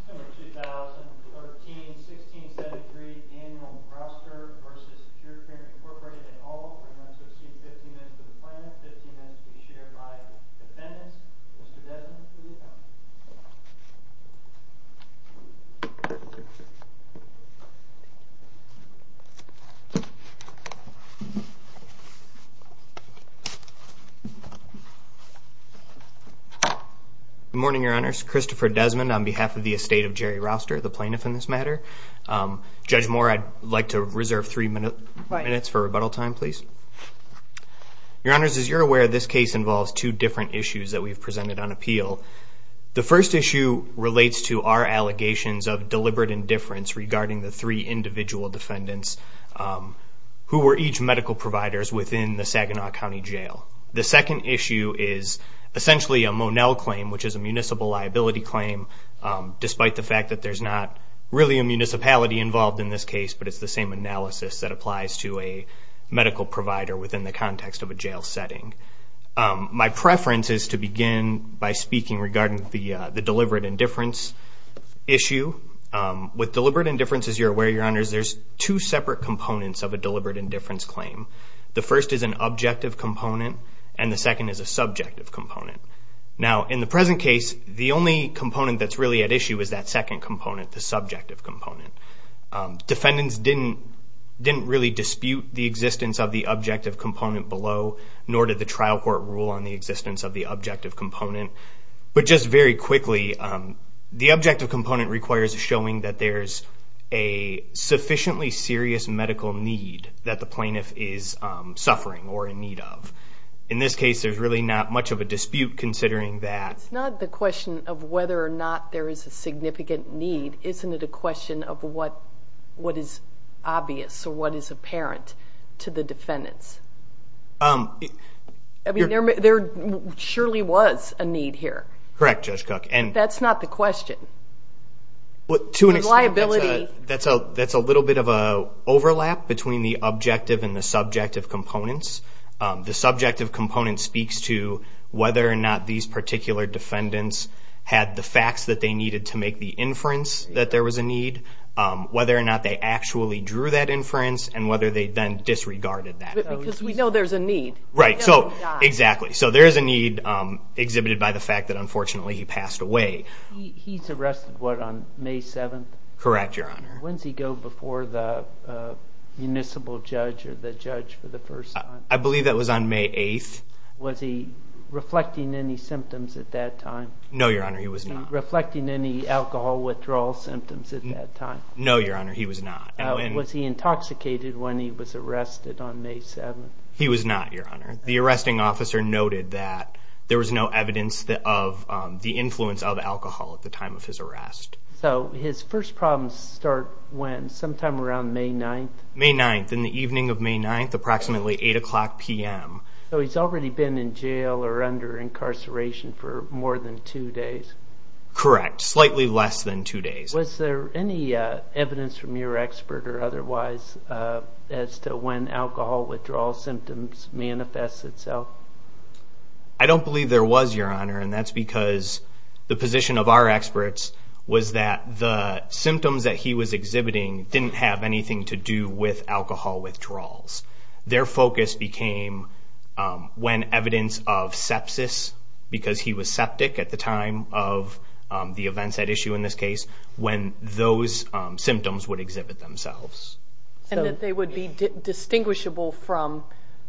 December 2013, 1673, Daniel Rouster v. Secure Care Incorporated et al. I'm going to associate 15 minutes to the plan, 15 minutes to be shared by the defendants. Mr. Desmond, please come. Good morning, Your Honors. Christopher Desmond on behalf of the estate of Jerry Rouster, the plaintiff in this matter. Judge Moore, I'd like to reserve three minutes for rebuttal time, please. Your Honors, as you're aware, this case involves two different issues that we've presented on appeal. The first issue relates to our allegations of deliberate indifference regarding the three individual defendants who were each medical providers within the Saginaw County Jail. The second issue is essentially a Monell claim, which is a municipal liability claim, despite the fact that there's not really a municipality involved in this case, but it's the same analysis that applies to a medical provider within the context of a jail setting. My preference is to begin by speaking regarding the deliberate indifference issue. With deliberate indifference, as you're aware, Your Honors, there's two separate components of a deliberate indifference claim. The first is an objective component, and the second is a subjective component. Now, in the present case, the only component that's really at issue is that second component, the subjective component. Defendants didn't really dispute the existence of the objective component below, nor did the trial court rule on the existence of the objective component. But just very quickly, the objective component requires showing that there's a sufficiently serious medical need that the plaintiff is suffering or in need of. In this case, there's really not much of a dispute considering that. It's not the question of whether or not there is a significant need. Isn't it a question of what is obvious or what is apparent to the defendants? I mean, there surely was a need here. Correct, Judge Cook. That's not the question. To an extent, that's a little bit of an overlap between the objective and the subjective components. The subjective component speaks to whether or not these particular defendants had the facts that they needed to make the inference that there was a need, whether or not they actually drew that inference, and whether they then disregarded that. Because we know there's a need. Right. Exactly. So there is a need exhibited by the fact that, unfortunately, he passed away. He's arrested, what, on May 7th? Correct, Your Honor. When does he go before the municipal judge or the judge for the first time? I believe that was on May 8th. Was he reflecting any symptoms at that time? No, Your Honor. He was not. Reflecting any alcohol withdrawal symptoms at that time? No, Your Honor. He was not. Was he intoxicated when he was arrested on May 7th? He was not, Your Honor. The arresting officer noted that there was no evidence of the influence of alcohol at the time of his arrest. So his first problems start when, sometime around May 9th? May 9th, in the evening of May 9th, approximately 8 o'clock p.m. So he's already been in jail or under incarceration for more than two days? Correct, slightly less than two days. Was there any evidence from your expert or otherwise as to when alcohol withdrawal symptoms manifest itself? I don't believe there was, Your Honor, and that's because the position of our experts was that the symptoms that he was exhibiting didn't have anything to do with alcohol withdrawals. Their focus became when evidence of sepsis, because he was septic at the time of the events at issue in this case, when those symptoms would exhibit themselves. And that they would be distinguishable from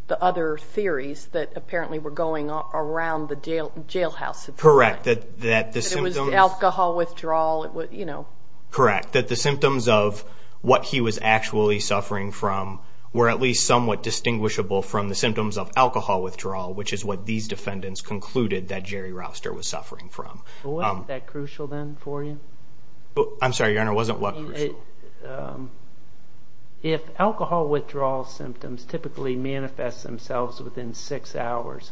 the other theories that apparently were going around the jailhouse? Correct, that the symptoms of what he was actually suffering from were at least somewhat distinguishable from the symptoms of alcohol withdrawal, which is what these defendants concluded that Jerry Rouster was suffering from. Wasn't that crucial then for you? I'm sorry, Your Honor, wasn't what crucial? If alcohol withdrawal symptoms typically manifest themselves within six hours,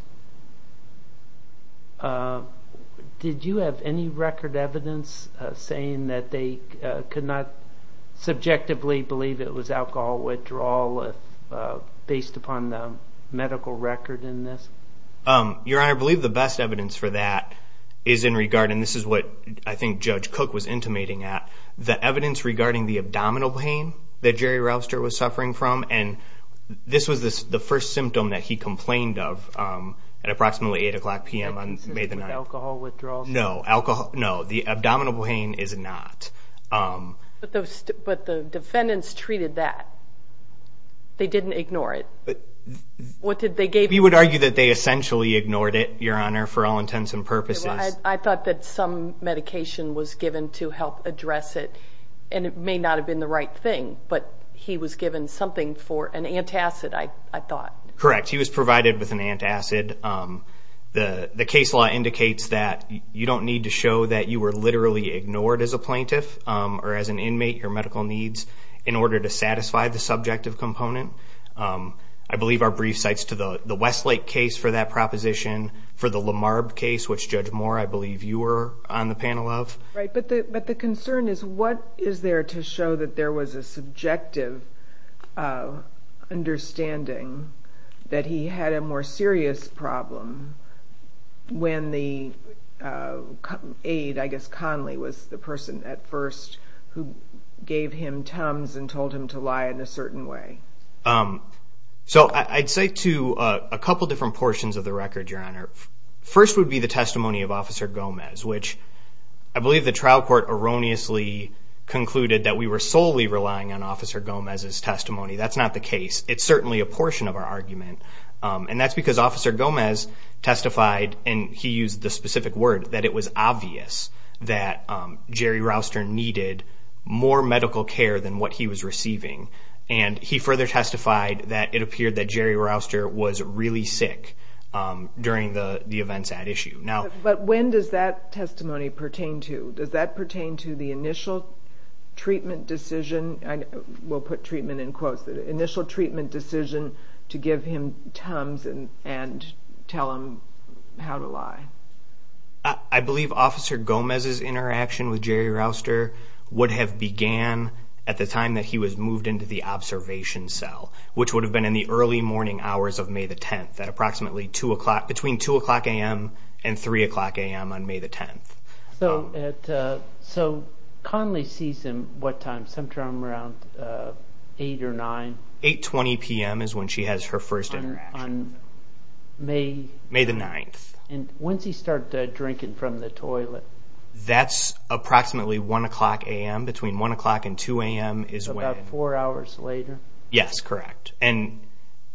did you have any record evidence saying that they could not subjectively believe it was alcohol withdrawal based upon the medical record in this? Your Honor, I believe the best evidence for that is in regard, and this is what I think Judge Cook was intimating at, the evidence regarding the abdominal pain that Jerry Rouster was suffering from, and this was the first symptom that he complained of at approximately 8 o'clock p.m. on May the 9th. Is this with alcohol withdrawal? No, the abdominal pain is not. But the defendants treated that. They didn't ignore it. You would argue that they essentially ignored it, Your Honor, for all intents and purposes. I thought that some medication was given to help address it, and it may not have been the right thing, but he was given something for an antacid, I thought. Correct, he was provided with an antacid. The case law indicates that you don't need to show that you were literally ignored as a plaintiff or as an inmate your medical needs in order to satisfy the subjective component. I believe our brief cites to the Westlake case for that proposition, for the Lamarb case, which, Judge Moore, I believe you were on the panel of. Right, but the concern is what is there to show that there was a subjective understanding that he had a more serious problem when the aide, I guess Conley, was the person at first who gave him tums and told him to lie in a certain way? So I'd say to a couple different portions of the record, Your Honor. First would be the testimony of Officer Gomez, which I believe the trial court erroneously concluded that we were solely relying on Officer Gomez's testimony. That's not the case. It's certainly a portion of our argument, and that's because Officer Gomez testified, and he used the specific word, that it was obvious that Jerry Rouster needed more medical care than what he was receiving, and he further testified that it appeared that Jerry Rouster was really sick during the events at issue. But when does that testimony pertain to? Does that pertain to the initial treatment decision? We'll put treatment in quotes. The initial treatment decision to give him tums and tell him how to lie. I believe Officer Gomez's interaction with Jerry Rouster would have began at the time that he was moved into the observation cell, which would have been in the early morning hours of May the 10th, between 2 o'clock a.m. and 3 o'clock a.m. on May the 10th. So Conley sees him what time, sometime around 8 or 9? 8.20 p.m. is when she has her first interaction. On May? May the 9th. And when does he start drinking from the toilet? That's approximately 1 o'clock a.m. Between 1 o'clock and 2 a.m. is when? About four hours later. Yes, correct. And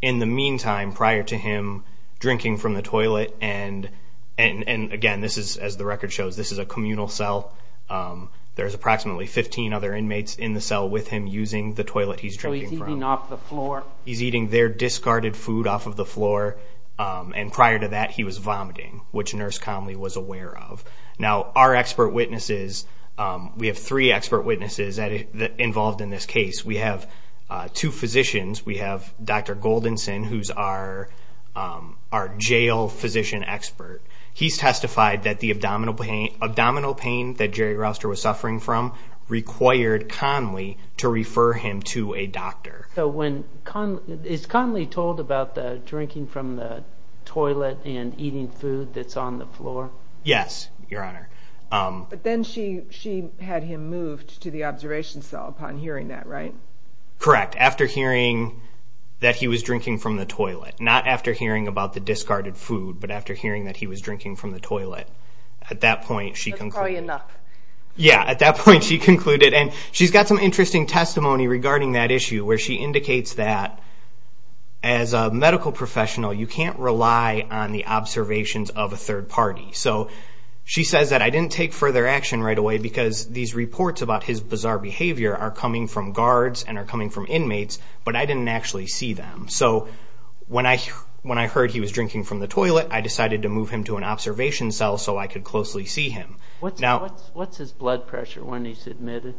in the meantime, prior to him drinking from the toilet, and, again, this is, as the record shows, this is a communal cell, there's approximately 15 other inmates in the cell with him using the toilet he's drinking from. So he's eating off the floor? He's eating their discarded food off of the floor, and prior to that he was vomiting, which Nurse Conley was aware of. Now, our expert witnesses, we have three expert witnesses involved in this case. We have two physicians. We have Dr. Goldenson, who's our jail physician expert. He's testified that the abdominal pain that Jerry Rouster was suffering from required Conley to refer him to a doctor. So is Conley told about the drinking from the toilet and eating food that's on the floor? Yes, Your Honor. But then she had him moved to the observation cell upon hearing that, right? Correct, after hearing that he was drinking from the toilet. Not after hearing about the discarded food, but after hearing that he was drinking from the toilet. At that point she concluded. That's probably enough. Yeah, at that point she concluded. And she's got some interesting testimony regarding that issue, where she indicates that as a medical professional you can't rely on the observations of a third party. So she says that I didn't take further action right away because these reports about his bizarre behavior are coming from guards and are coming from inmates, but I didn't actually see them. So when I heard he was drinking from the toilet, I decided to move him to an observation cell so I could closely see him. What's his blood pressure when he's admitted?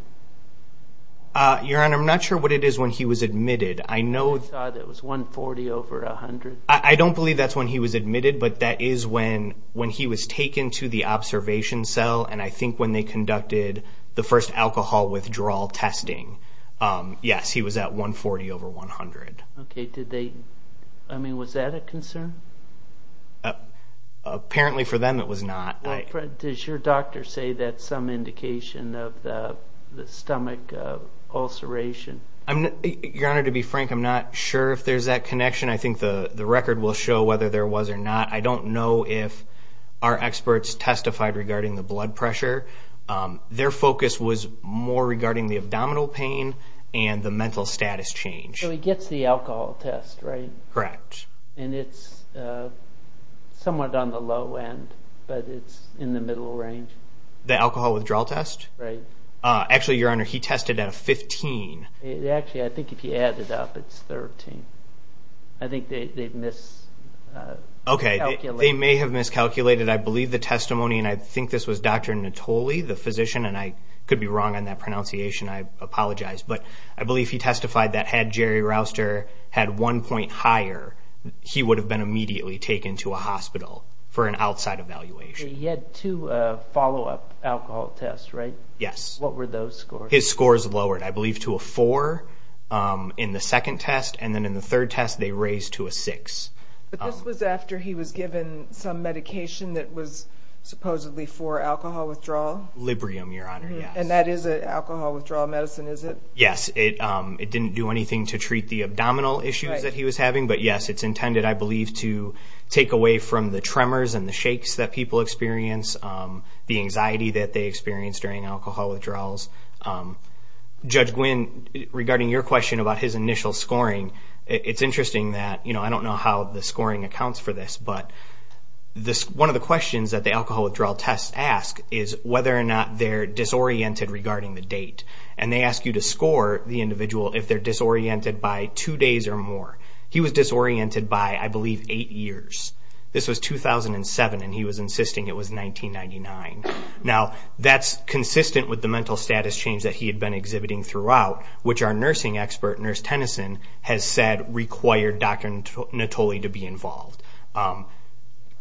Your Honor, I'm not sure what it is when he was admitted. I thought it was 140 over 100. I don't believe that's when he was admitted, but that is when he was taken to the observation cell, and I think when they conducted the first alcohol withdrawal testing. Yes, he was at 140 over 100. Okay. I mean, was that a concern? Apparently for them it was not. Does your doctor say that's some indication of the stomach ulceration? Your Honor, to be frank, I'm not sure if there's that connection. I think the record will show whether there was or not. I don't know if our experts testified regarding the blood pressure. Their focus was more regarding the abdominal pain and the mental status change. So he gets the alcohol test, right? Correct. And it's somewhat on the low end, but it's in the middle range. The alcohol withdrawal test? Right. Actually, Your Honor, he tested at a 15. Actually, I think if you add it up, it's 13. I think they've miscalculated. Okay, they may have miscalculated. I believe the testimony, and I think this was Dr. Natoli, the physician, and I could be wrong on that pronunciation. I apologize. But I believe he testified that had Jerry Rouster had one point higher, he would have been immediately taken to a hospital for an outside evaluation. He had two follow-up alcohol tests, right? Yes. What were those scores? His scores lowered, I believe, to a 4 in the second test, and then in the third test they raised to a 6. But this was after he was given some medication that was supposedly for alcohol withdrawal? Librium, Your Honor, yes. And that is an alcohol withdrawal medicine, is it? Yes. It didn't do anything to treat the abdominal issues that he was having. But, yes, it's intended, I believe, to take away from the tremors and the shakes that people experience, the anxiety that they experience during alcohol withdrawals. Judge Gwynne, regarding your question about his initial scoring, it's interesting that, you know, I don't know how the scoring accounts for this, but one of the questions that the alcohol withdrawal tests ask is whether or not they're disoriented regarding the date. And they ask you to score the individual if they're disoriented by two days or more. He was disoriented by, I believe, eight years. This was 2007, and he was insisting it was 1999. Now, that's consistent with the mental status change that he had been exhibiting throughout, which our nursing expert, Nurse Tennyson, has said required Dr. Natoli to be involved.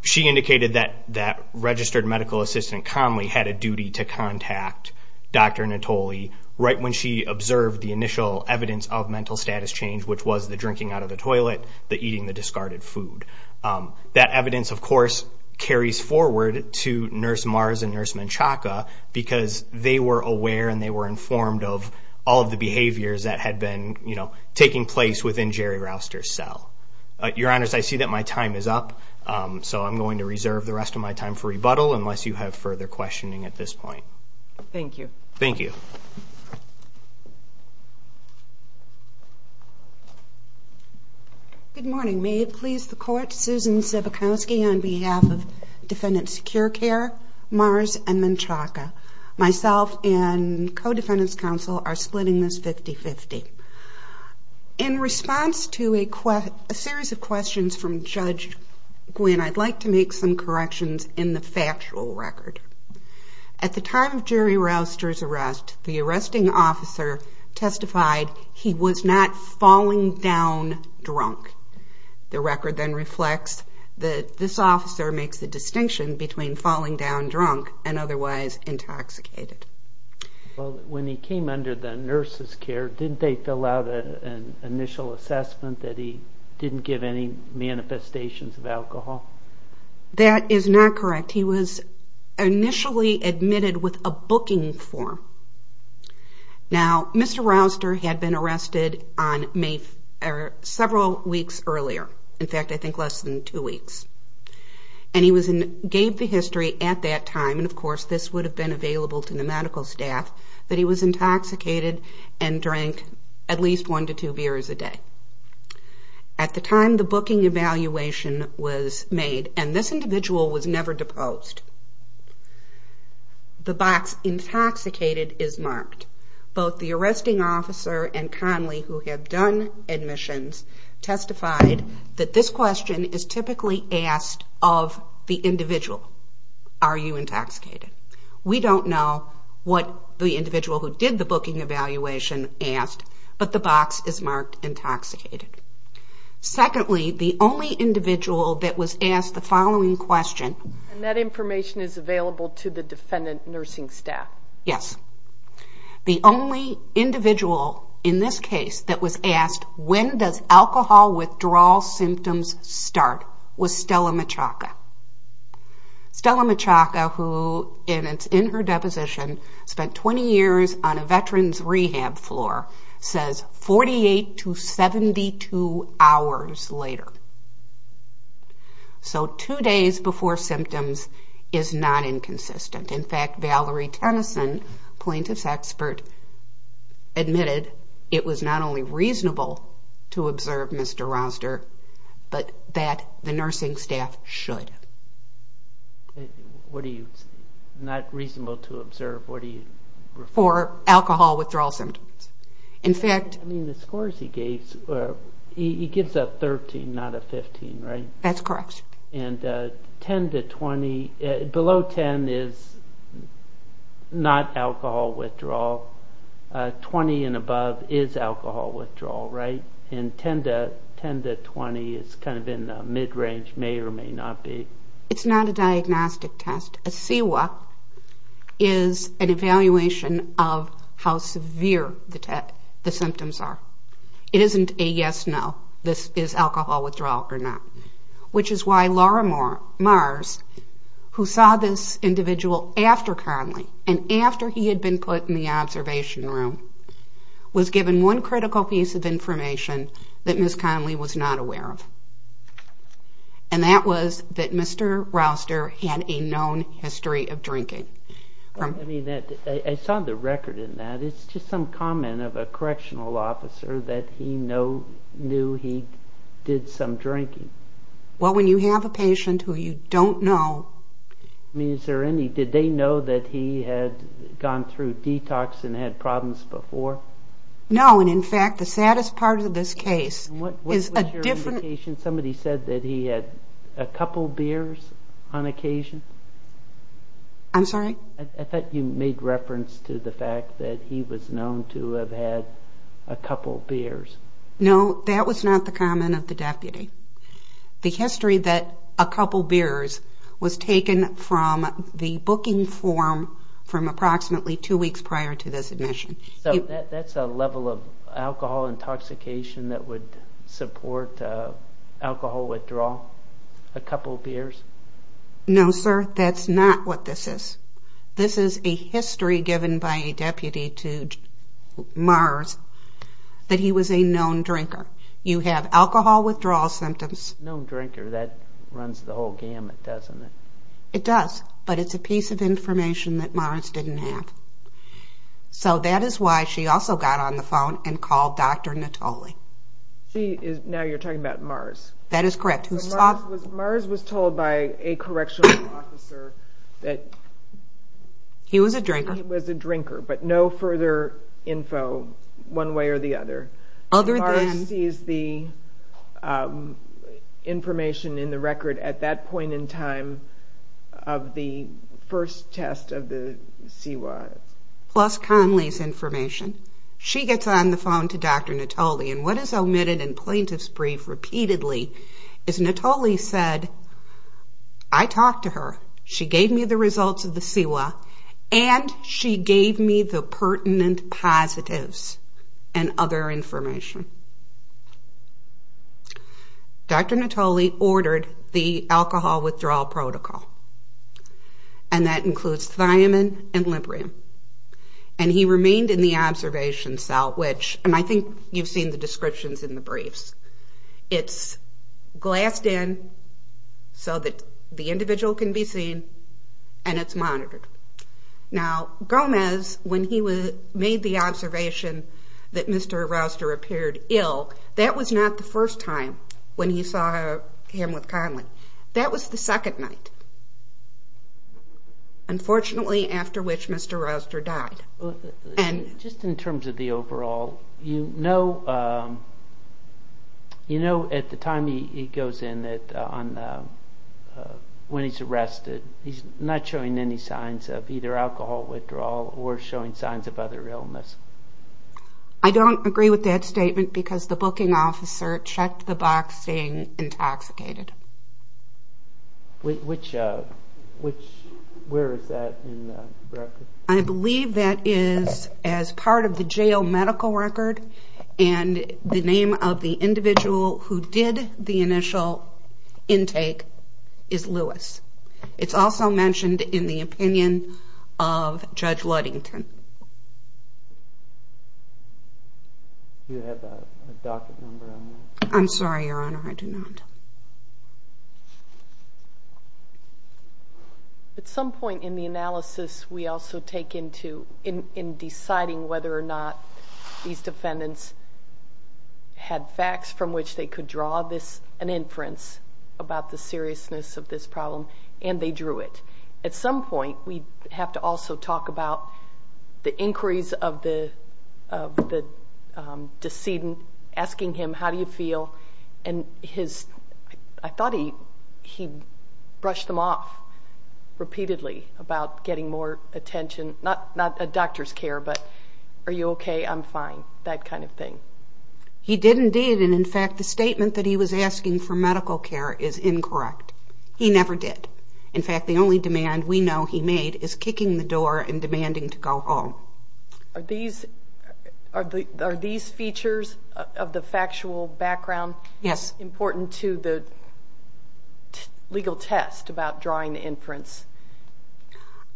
She indicated that registered medical assistant Conley had a duty to contact Dr. Natoli right when she observed the initial evidence of mental status change, which was the drinking out of the toilet, the eating the discarded food. That evidence, of course, carries forward to Nurse Mars and Nurse Menchaca because they were aware and they were informed of all of the behaviors that had been, you know, taking place within Jerry Rouster's cell. Your Honors, I see that my time is up, so I'm going to reserve the rest of my time for rebuttal unless you have further questioning at this point. Thank you. Thank you. Good morning. May it please the Court, Susan Szybkowski on behalf of Defendants Secure Care, Mars, and Menchaca. Myself and co-defendants counsel are splitting this 50-50. In response to a series of questions from Judge Gwynne, I'd like to make some corrections in the factual record. At the time of Jerry Rouster's arrest, the arresting officer testified he was not falling down drunk. The record then reflects that this officer makes the distinction between falling down drunk and otherwise intoxicated. Well, when he came under the nurse's care, didn't they fill out an initial assessment that he didn't give any manifestations of alcohol? That is not correct. He was initially admitted with a booking form. Now, Mr. Rouster had been arrested several weeks earlier. In fact, I think less than two weeks. And he gave the history at that time, and of course this would have been available to the medical staff, that he was intoxicated and drank at least one to two beers a day. At the time the booking evaluation was made, and this individual was never deposed, the box intoxicated is marked. Both the arresting officer and Conley, who had done admissions, testified that this question is typically asked of the individual. Are you intoxicated? We don't know what the individual who did the booking evaluation asked, but the box is marked intoxicated. Secondly, the only individual that was asked the following question. And that information is available to the defendant nursing staff. Yes. The only individual in this case that was asked, when does alcohol withdrawal symptoms start, was Stella Michalka. Stella Michalka, who is in her deposition, spent 20 years on a veterans rehab floor, says 48 to 72 hours later. So two days before symptoms is not inconsistent. In fact, Valerie Tennyson, plaintiff's expert, admitted it was not only reasonable to observe Mr. Roster, but that the nursing staff should. What do you say? Not reasonable to observe. For alcohol withdrawal symptoms. I mean, the scores he gave, he gives a 13, not a 15, right? That's correct. And 10 to 20, below 10 is not alcohol withdrawal. 20 and above is alcohol withdrawal, right? And 10 to 20 is kind of in the mid-range, may or may not be. It's not a diagnostic test. A CEWA is an evaluation of how severe the symptoms are. It isn't a yes-no, this is alcohol withdrawal or not, which is why Laura Mars, who saw this individual after Conley and after he had been put in the observation room, was given one critical piece of information that Ms. Conley was not aware of. And that was that Mr. Roster had a known history of drinking. I mean, I saw the record in that. It's just some comment of a correctional officer that he knew he did some drinking. Well, when you have a patient who you don't know. I mean, did they know that he had gone through detox and had problems before? No, and in fact, the saddest part of this case is a different... What was your indication? Somebody said that he had a couple beers on occasion? I'm sorry? I thought you made reference to the fact that he was known to have had a couple beers. No, that was not the comment of the deputy. The history that a couple beers was taken from the booking form from approximately two weeks prior to this admission. So that's a level of alcohol intoxication that would support alcohol withdrawal? A couple beers? No, sir, that's not what this is. This is a history given by a deputy to Mars that he was a known drinker. You have alcohol withdrawal symptoms. Known drinker, that runs the whole gamut, doesn't it? It does, but it's a piece of information that Mars didn't have. So that is why she also got on the phone and called Dr. Natoli. Now you're talking about Mars. That is correct. Mars was told by a correctional officer that... He was a drinker. He was a drinker, but no further info one way or the other. Mars sees the information in the record at that point in time of the first test of the CIWA. Plus Conley's information. She gets on the phone to Dr. Natoli, and what is omitted in plaintiff's brief repeatedly is Natoli said, I talked to her, she gave me the results of the CIWA, and she gave me the pertinent positives and other information. Dr. Natoli ordered the alcohol withdrawal protocol, and that includes thiamine and librium. And he remained in the observation cell, which I think you've seen the descriptions in the briefs. It's glassed in so that the individual can be seen, and it's monitored. Now Gomez, when he made the observation that Mr. Rouster appeared ill, that was not the first time when he saw him with Conley. That was the second night, unfortunately, after which Mr. Rouster died. Just in terms of the overall, you know at the time he goes in that when he's arrested, he's not showing any signs of either alcohol withdrawal or showing signs of other illness. I don't agree with that statement because the booking officer checked the box saying intoxicated. Which, where is that in the record? I believe that is as part of the jail medical record, and the name of the individual who did the initial intake is Lewis. It's also mentioned in the opinion of Judge Ludington. Do you have a docket number on that? I'm sorry, Your Honor, I do not. At some point in the analysis, we also take into deciding whether or not these defendants had facts from which they could draw an inference about the seriousness of this problem, and they drew it. At some point, we have to also talk about the inquiries of the decedent, asking him how do you feel, and I thought he brushed them off repeatedly about getting more attention, not a doctor's care, but are you okay, I'm fine, that kind of thing. He did indeed, and in fact, the statement that he was asking for medical care is incorrect. He never did. In fact, the only demand we know he made is kicking the door and demanding to go home. Are these features of the factual background important to the legal test about drawing the inference?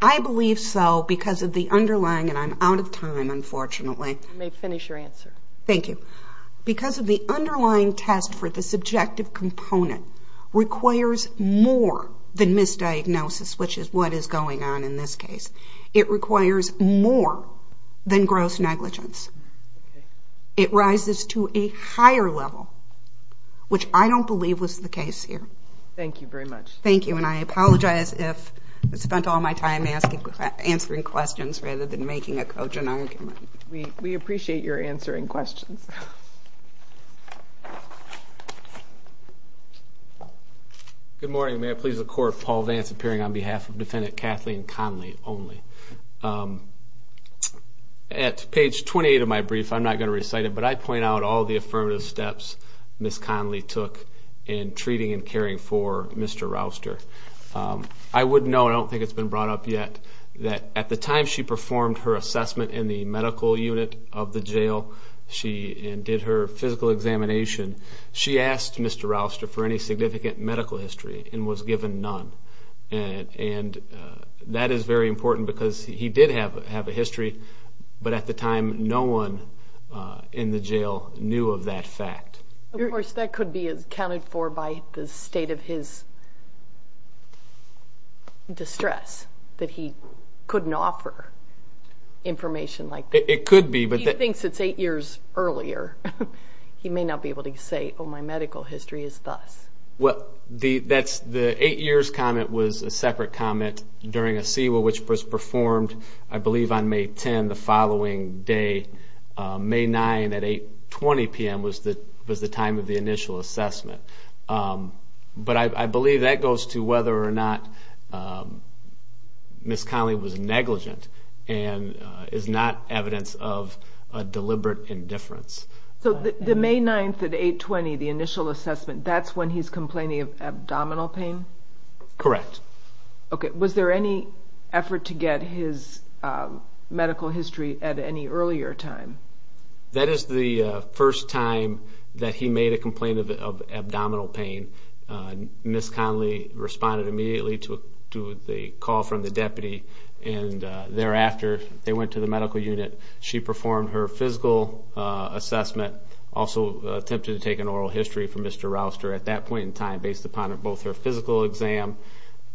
I believe so because of the underlying, and I'm out of time, unfortunately. I may finish your answer. Thank you. Because of the underlying test for the subjective component requires more than misdiagnosis, which is what is going on in this case. It requires more than gross negligence. It rises to a higher level, which I don't believe was the case here. Thank you very much. Thank you, and I apologize if I spent all my time answering questions rather than making a cogent argument. We appreciate your answering questions. Good morning. Good morning. May it please the Court, Paul Vance appearing on behalf of Defendant Kathleen Conley only. At page 28 of my brief, I'm not going to recite it, but I point out all the affirmative steps Ms. Conley took in treating and caring for Mr. Rouster. I would note, I don't think it's been brought up yet, that at the time she performed her assessment in the medical unit of the jail and did her physical examination, she asked Mr. Rouster for any significant medical history and was given none. And that is very important because he did have a history, but at the time no one in the jail knew of that fact. Of course, that could be accounted for by the state of his distress, that he couldn't offer information like that. It could be. He thinks it's eight years earlier. He may not be able to say, oh, my medical history is thus. Well, the eight years comment was a separate comment during a CEWA, which was performed I believe on May 10, the following day. May 9 at 8.20 p.m. was the time of the initial assessment. But I believe that goes to whether or not Ms. Conley was negligent and is not evidence of deliberate indifference. So the May 9 at 8.20, the initial assessment, that's when he's complaining of abdominal pain? Correct. Okay. Was there any effort to get his medical history at any earlier time? That is the first time that he made a complaint of abdominal pain. Ms. Conley responded immediately to the call from the deputy, and thereafter they went to the medical unit. She performed her physical assessment, also attempted to take an oral history from Mr. Rouster at that point in time, based upon both her physical exam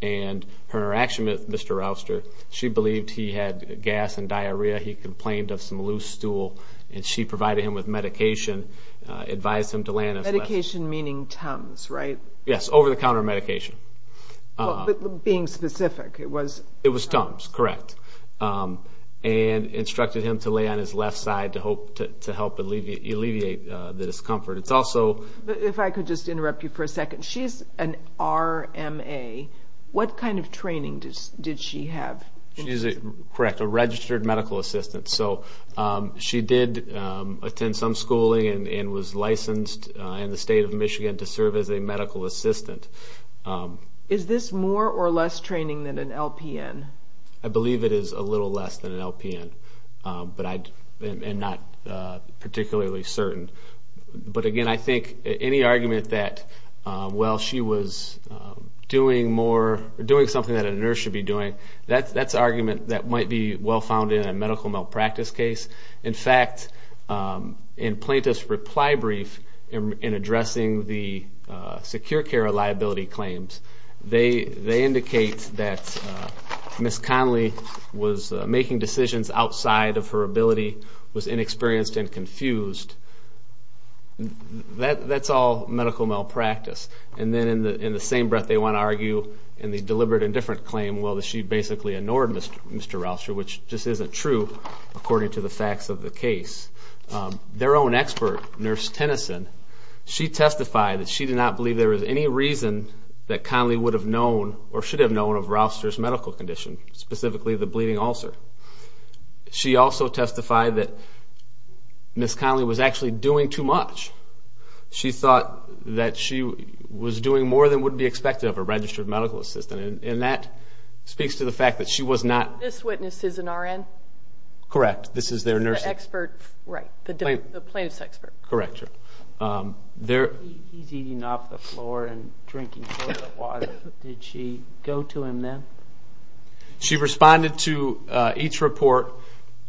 and her interaction with Mr. Rouster. She believed he had gas and diarrhea. He complained of some loose stool, and she provided him with medication, advised him to land his lesson. Medication meaning Tums, right? Yes, over-the-counter medication. But being specific, it was? It was Tums, correct, and instructed him to lay on his left side to help alleviate the discomfort. It's also? If I could just interrupt you for a second. She's an RMA. What kind of training did she have? Correct, a registered medical assistant. So she did attend some schooling and was licensed in the state of Michigan to serve as a medical assistant. Is this more or less training than an LPN? I believe it is a little less than an LPN and not particularly certain. But again, I think any argument that, well, she was doing something that a nurse should be doing, that's an argument that might be well found in a medical malpractice case. In fact, in plaintiff's reply brief in addressing the secure care liability claims, they indicate that Ms. Conley was making decisions outside of her ability, was inexperienced and confused. That's all medical malpractice. And then in the same breath they want to argue in the deliberate indifferent claim, well, that she basically ignored Mr. Rouster, which just isn't true according to the facts of the case. Their own expert, Nurse Tennyson, she testified that she did not believe there was any reason that Conley would have known or should have known of Rouster's medical condition, specifically the bleeding ulcer. She also testified that Ms. Conley was actually doing too much. She thought that she was doing more than would be expected of a registered medical assistant. And that speaks to the fact that she was not. This witness is an RN? Correct, this is their nurse. The expert, right, the plaintiff's expert. Correct. He's eating off the floor and drinking toilet water. Did she go to him then? She responded to each report,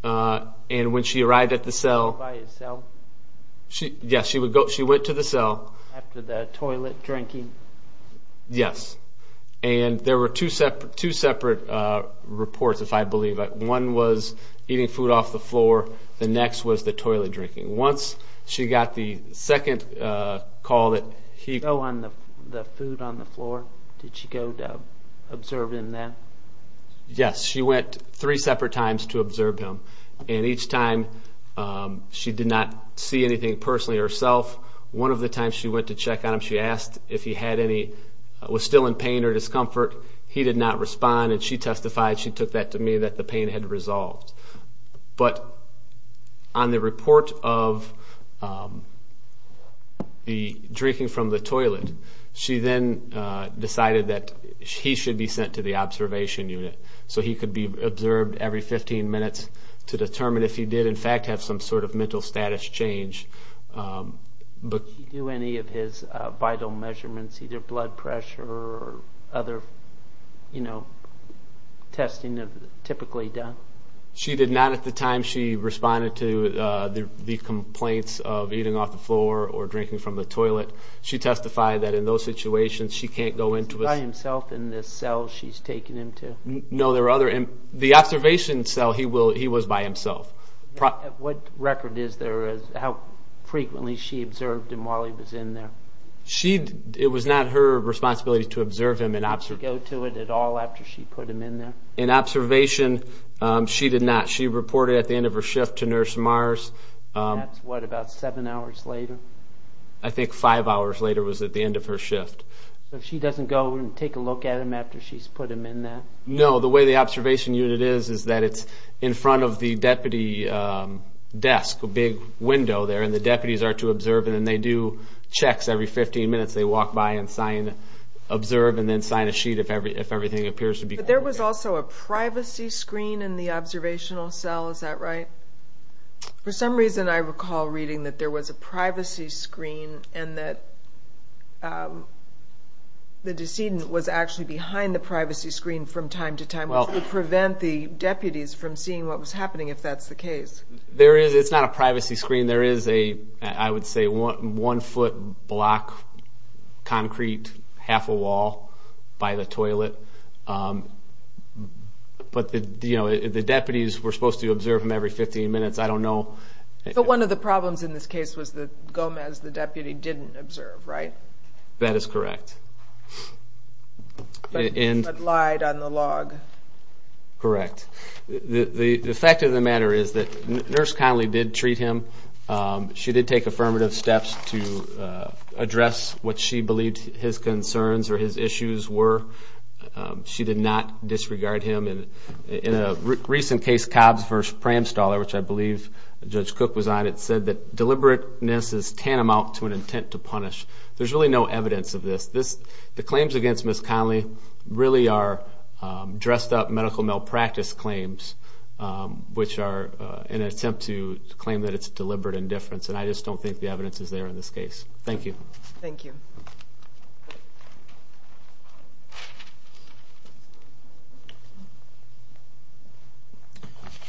and when she arrived at the cell. By his cell? Yes, she went to the cell. After the toilet drinking? Yes. And there were two separate reports, if I believe. One was eating food off the floor, the next was the toilet drinking. Once she got the second call that he... The food on the floor, did she go to observe him then? Yes, she went three separate times to observe him. And each time she did not see anything personally herself. One of the times she went to check on him, she asked if he was still in pain or discomfort. He did not respond, and she testified, she took that to me, that the pain had resolved. But on the report of the drinking from the toilet, she then decided that he should be sent to the observation unit so he could be observed every 15 minutes to determine if he did, in fact, have some sort of mental status change. Did she do any of his vital measurements, either blood pressure or other testing typically done? She did not at the time she responded to the complaints of eating off the floor or drinking from the toilet. She testified that in those situations she can't go into a... By himself in this cell she's taken him to? No, there were other... The observation cell he was by himself. What record is there of how frequently she observed him while he was in there? It was not her responsibility to observe him. Did she go to it at all after she put him in there? In observation, she did not. She reported at the end of her shift to Nurse Mars. That's what, about seven hours later? I think five hours later was at the end of her shift. So she doesn't go and take a look at him after she's put him in there? No, the way the observation unit is is that it's in front of the deputy desk, a big window there, and the deputies are to observe, and they do checks every 15 minutes. They walk by and sign observe and then sign a sheet if everything appears to be... But there was also a privacy screen in the observational cell, is that right? For some reason I recall reading that there was a privacy screen and that the decedent was actually behind the privacy screen from time to time, which would prevent the deputies from seeing what was happening if that's the case. It's not a privacy screen. There is a, I would say, one-foot block, concrete, half a wall by the toilet. But the deputies were supposed to observe him every 15 minutes. I don't know... But they didn't observe, right? That is correct. But lied on the log. Correct. The fact of the matter is that Nurse Connolly did treat him. She did take affirmative steps to address what she believed his concerns or his issues were. She did not disregard him. In a recent case, Cobbs v. Pramstaller, which I believe Judge Cook was on, it said that deliberateness is tantamount to an intent to punish. There's really no evidence of this. The claims against Ms. Connolly really are dressed-up medical malpractice claims, which are in an attempt to claim that it's deliberate indifference, and I just don't think the evidence is there in this case. Thank you. Thank you.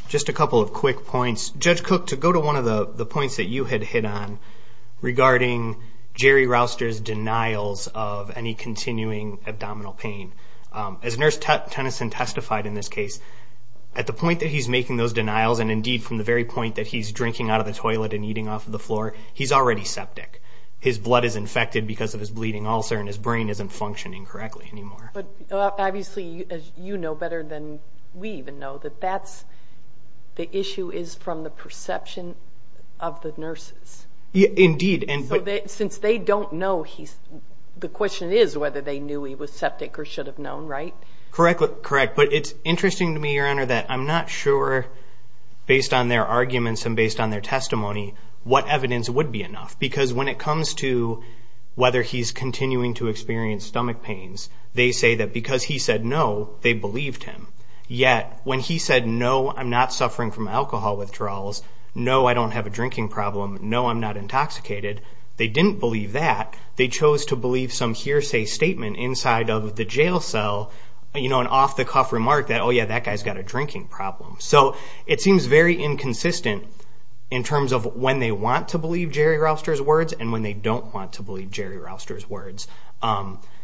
Just a couple of quick points. Judge Cook, to go to one of the points that you had hit on regarding Jerry Rouster's denials of any continuing abdominal pain, as Nurse Tennyson testified in this case, at the point that he's making those denials and indeed from the very point that he's drinking out of the toilet and eating off of the floor, he's already septic. His blood is infected because of his bleeding ulcer, and his brain isn't functioning correctly anymore. Obviously, as you know better than we even know, the issue is from the perception of the nurses. Indeed. Since they don't know, the question is whether they knew he was septic or should have known, right? But it's interesting to me, Your Honor, that I'm not sure based on their arguments and based on their testimony what evidence would be enough, because when it comes to whether he's continuing to experience stomach pains, they say that because he said no, they believed him. Yet when he said, no, I'm not suffering from alcohol withdrawals, no, I don't have a drinking problem, no, I'm not intoxicated, they didn't believe that. They chose to believe some hearsay statement inside of the jail cell, an off-the-cuff remark that, oh, yeah, that guy's got a drinking problem. So it seems very inconsistent in terms of when they want to believe Jerry Rouster's words and when they don't want to believe Jerry Rouster's words.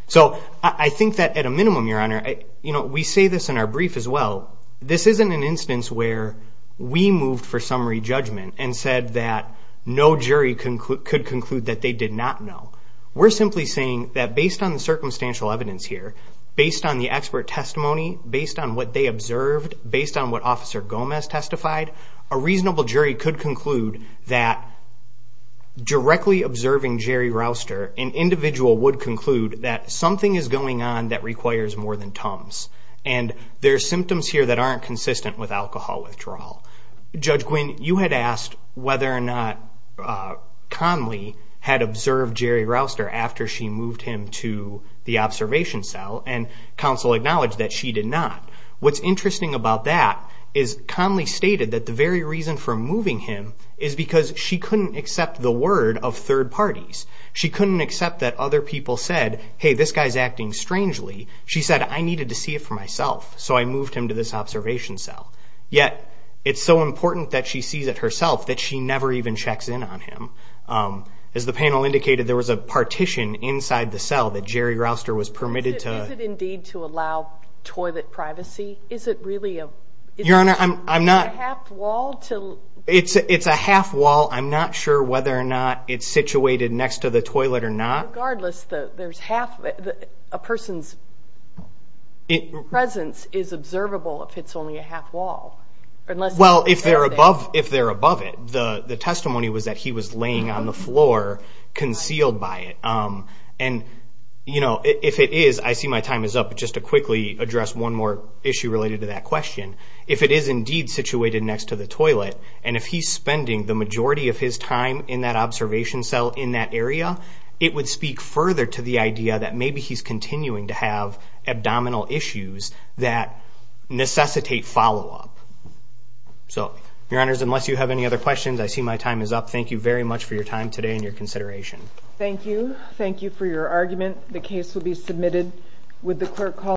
So I think that at a minimum, Your Honor, we say this in our brief as well, this isn't an instance where we moved for summary judgment and said that no jury could conclude that they did not know. We're simply saying that based on the circumstantial evidence here, based on the expert testimony, based on what they observed, based on what Officer Gomez testified, a reasonable jury could conclude that directly observing Jerry Rouster, an individual would conclude that something is going on that requires more than Tums. And there are symptoms here that aren't consistent with alcohol withdrawal. Judge Gwin, you had asked whether or not Conley had observed Jerry Rouster after she moved him to the observation cell, and counsel acknowledged that she did not. What's interesting about that is Conley stated that the very reason for moving him is because she couldn't accept the word of third parties. She couldn't accept that other people said, hey, this guy's acting strangely. She said, I needed to see it for myself, so I moved him to this observation cell. Yet it's so important that she sees it herself that she never even checks in on him. As the panel indicated, there was a partition inside the cell that Jerry Rouster was permitted to. Is it indeed to allow toilet privacy? Is it really a half wall? It's a half wall. I'm not sure whether or not it's situated next to the toilet or not. Regardless, a person's presence is observable if it's only a half wall. Well, if they're above it. The testimony was that he was laying on the floor concealed by it. And if it is, I see my time is up, but just to quickly address one more issue related to that question. If it is indeed situated next to the toilet, and if he's spending the majority of his time in that observation cell in that area, it would speak further to the idea that maybe he's continuing to have abdominal issues that necessitate follow-up. So, Your Honors, unless you have any other questions, I see my time is up. Thank you very much for your time today and your consideration. Thank you. Thank you for your argument. The case will be submitted.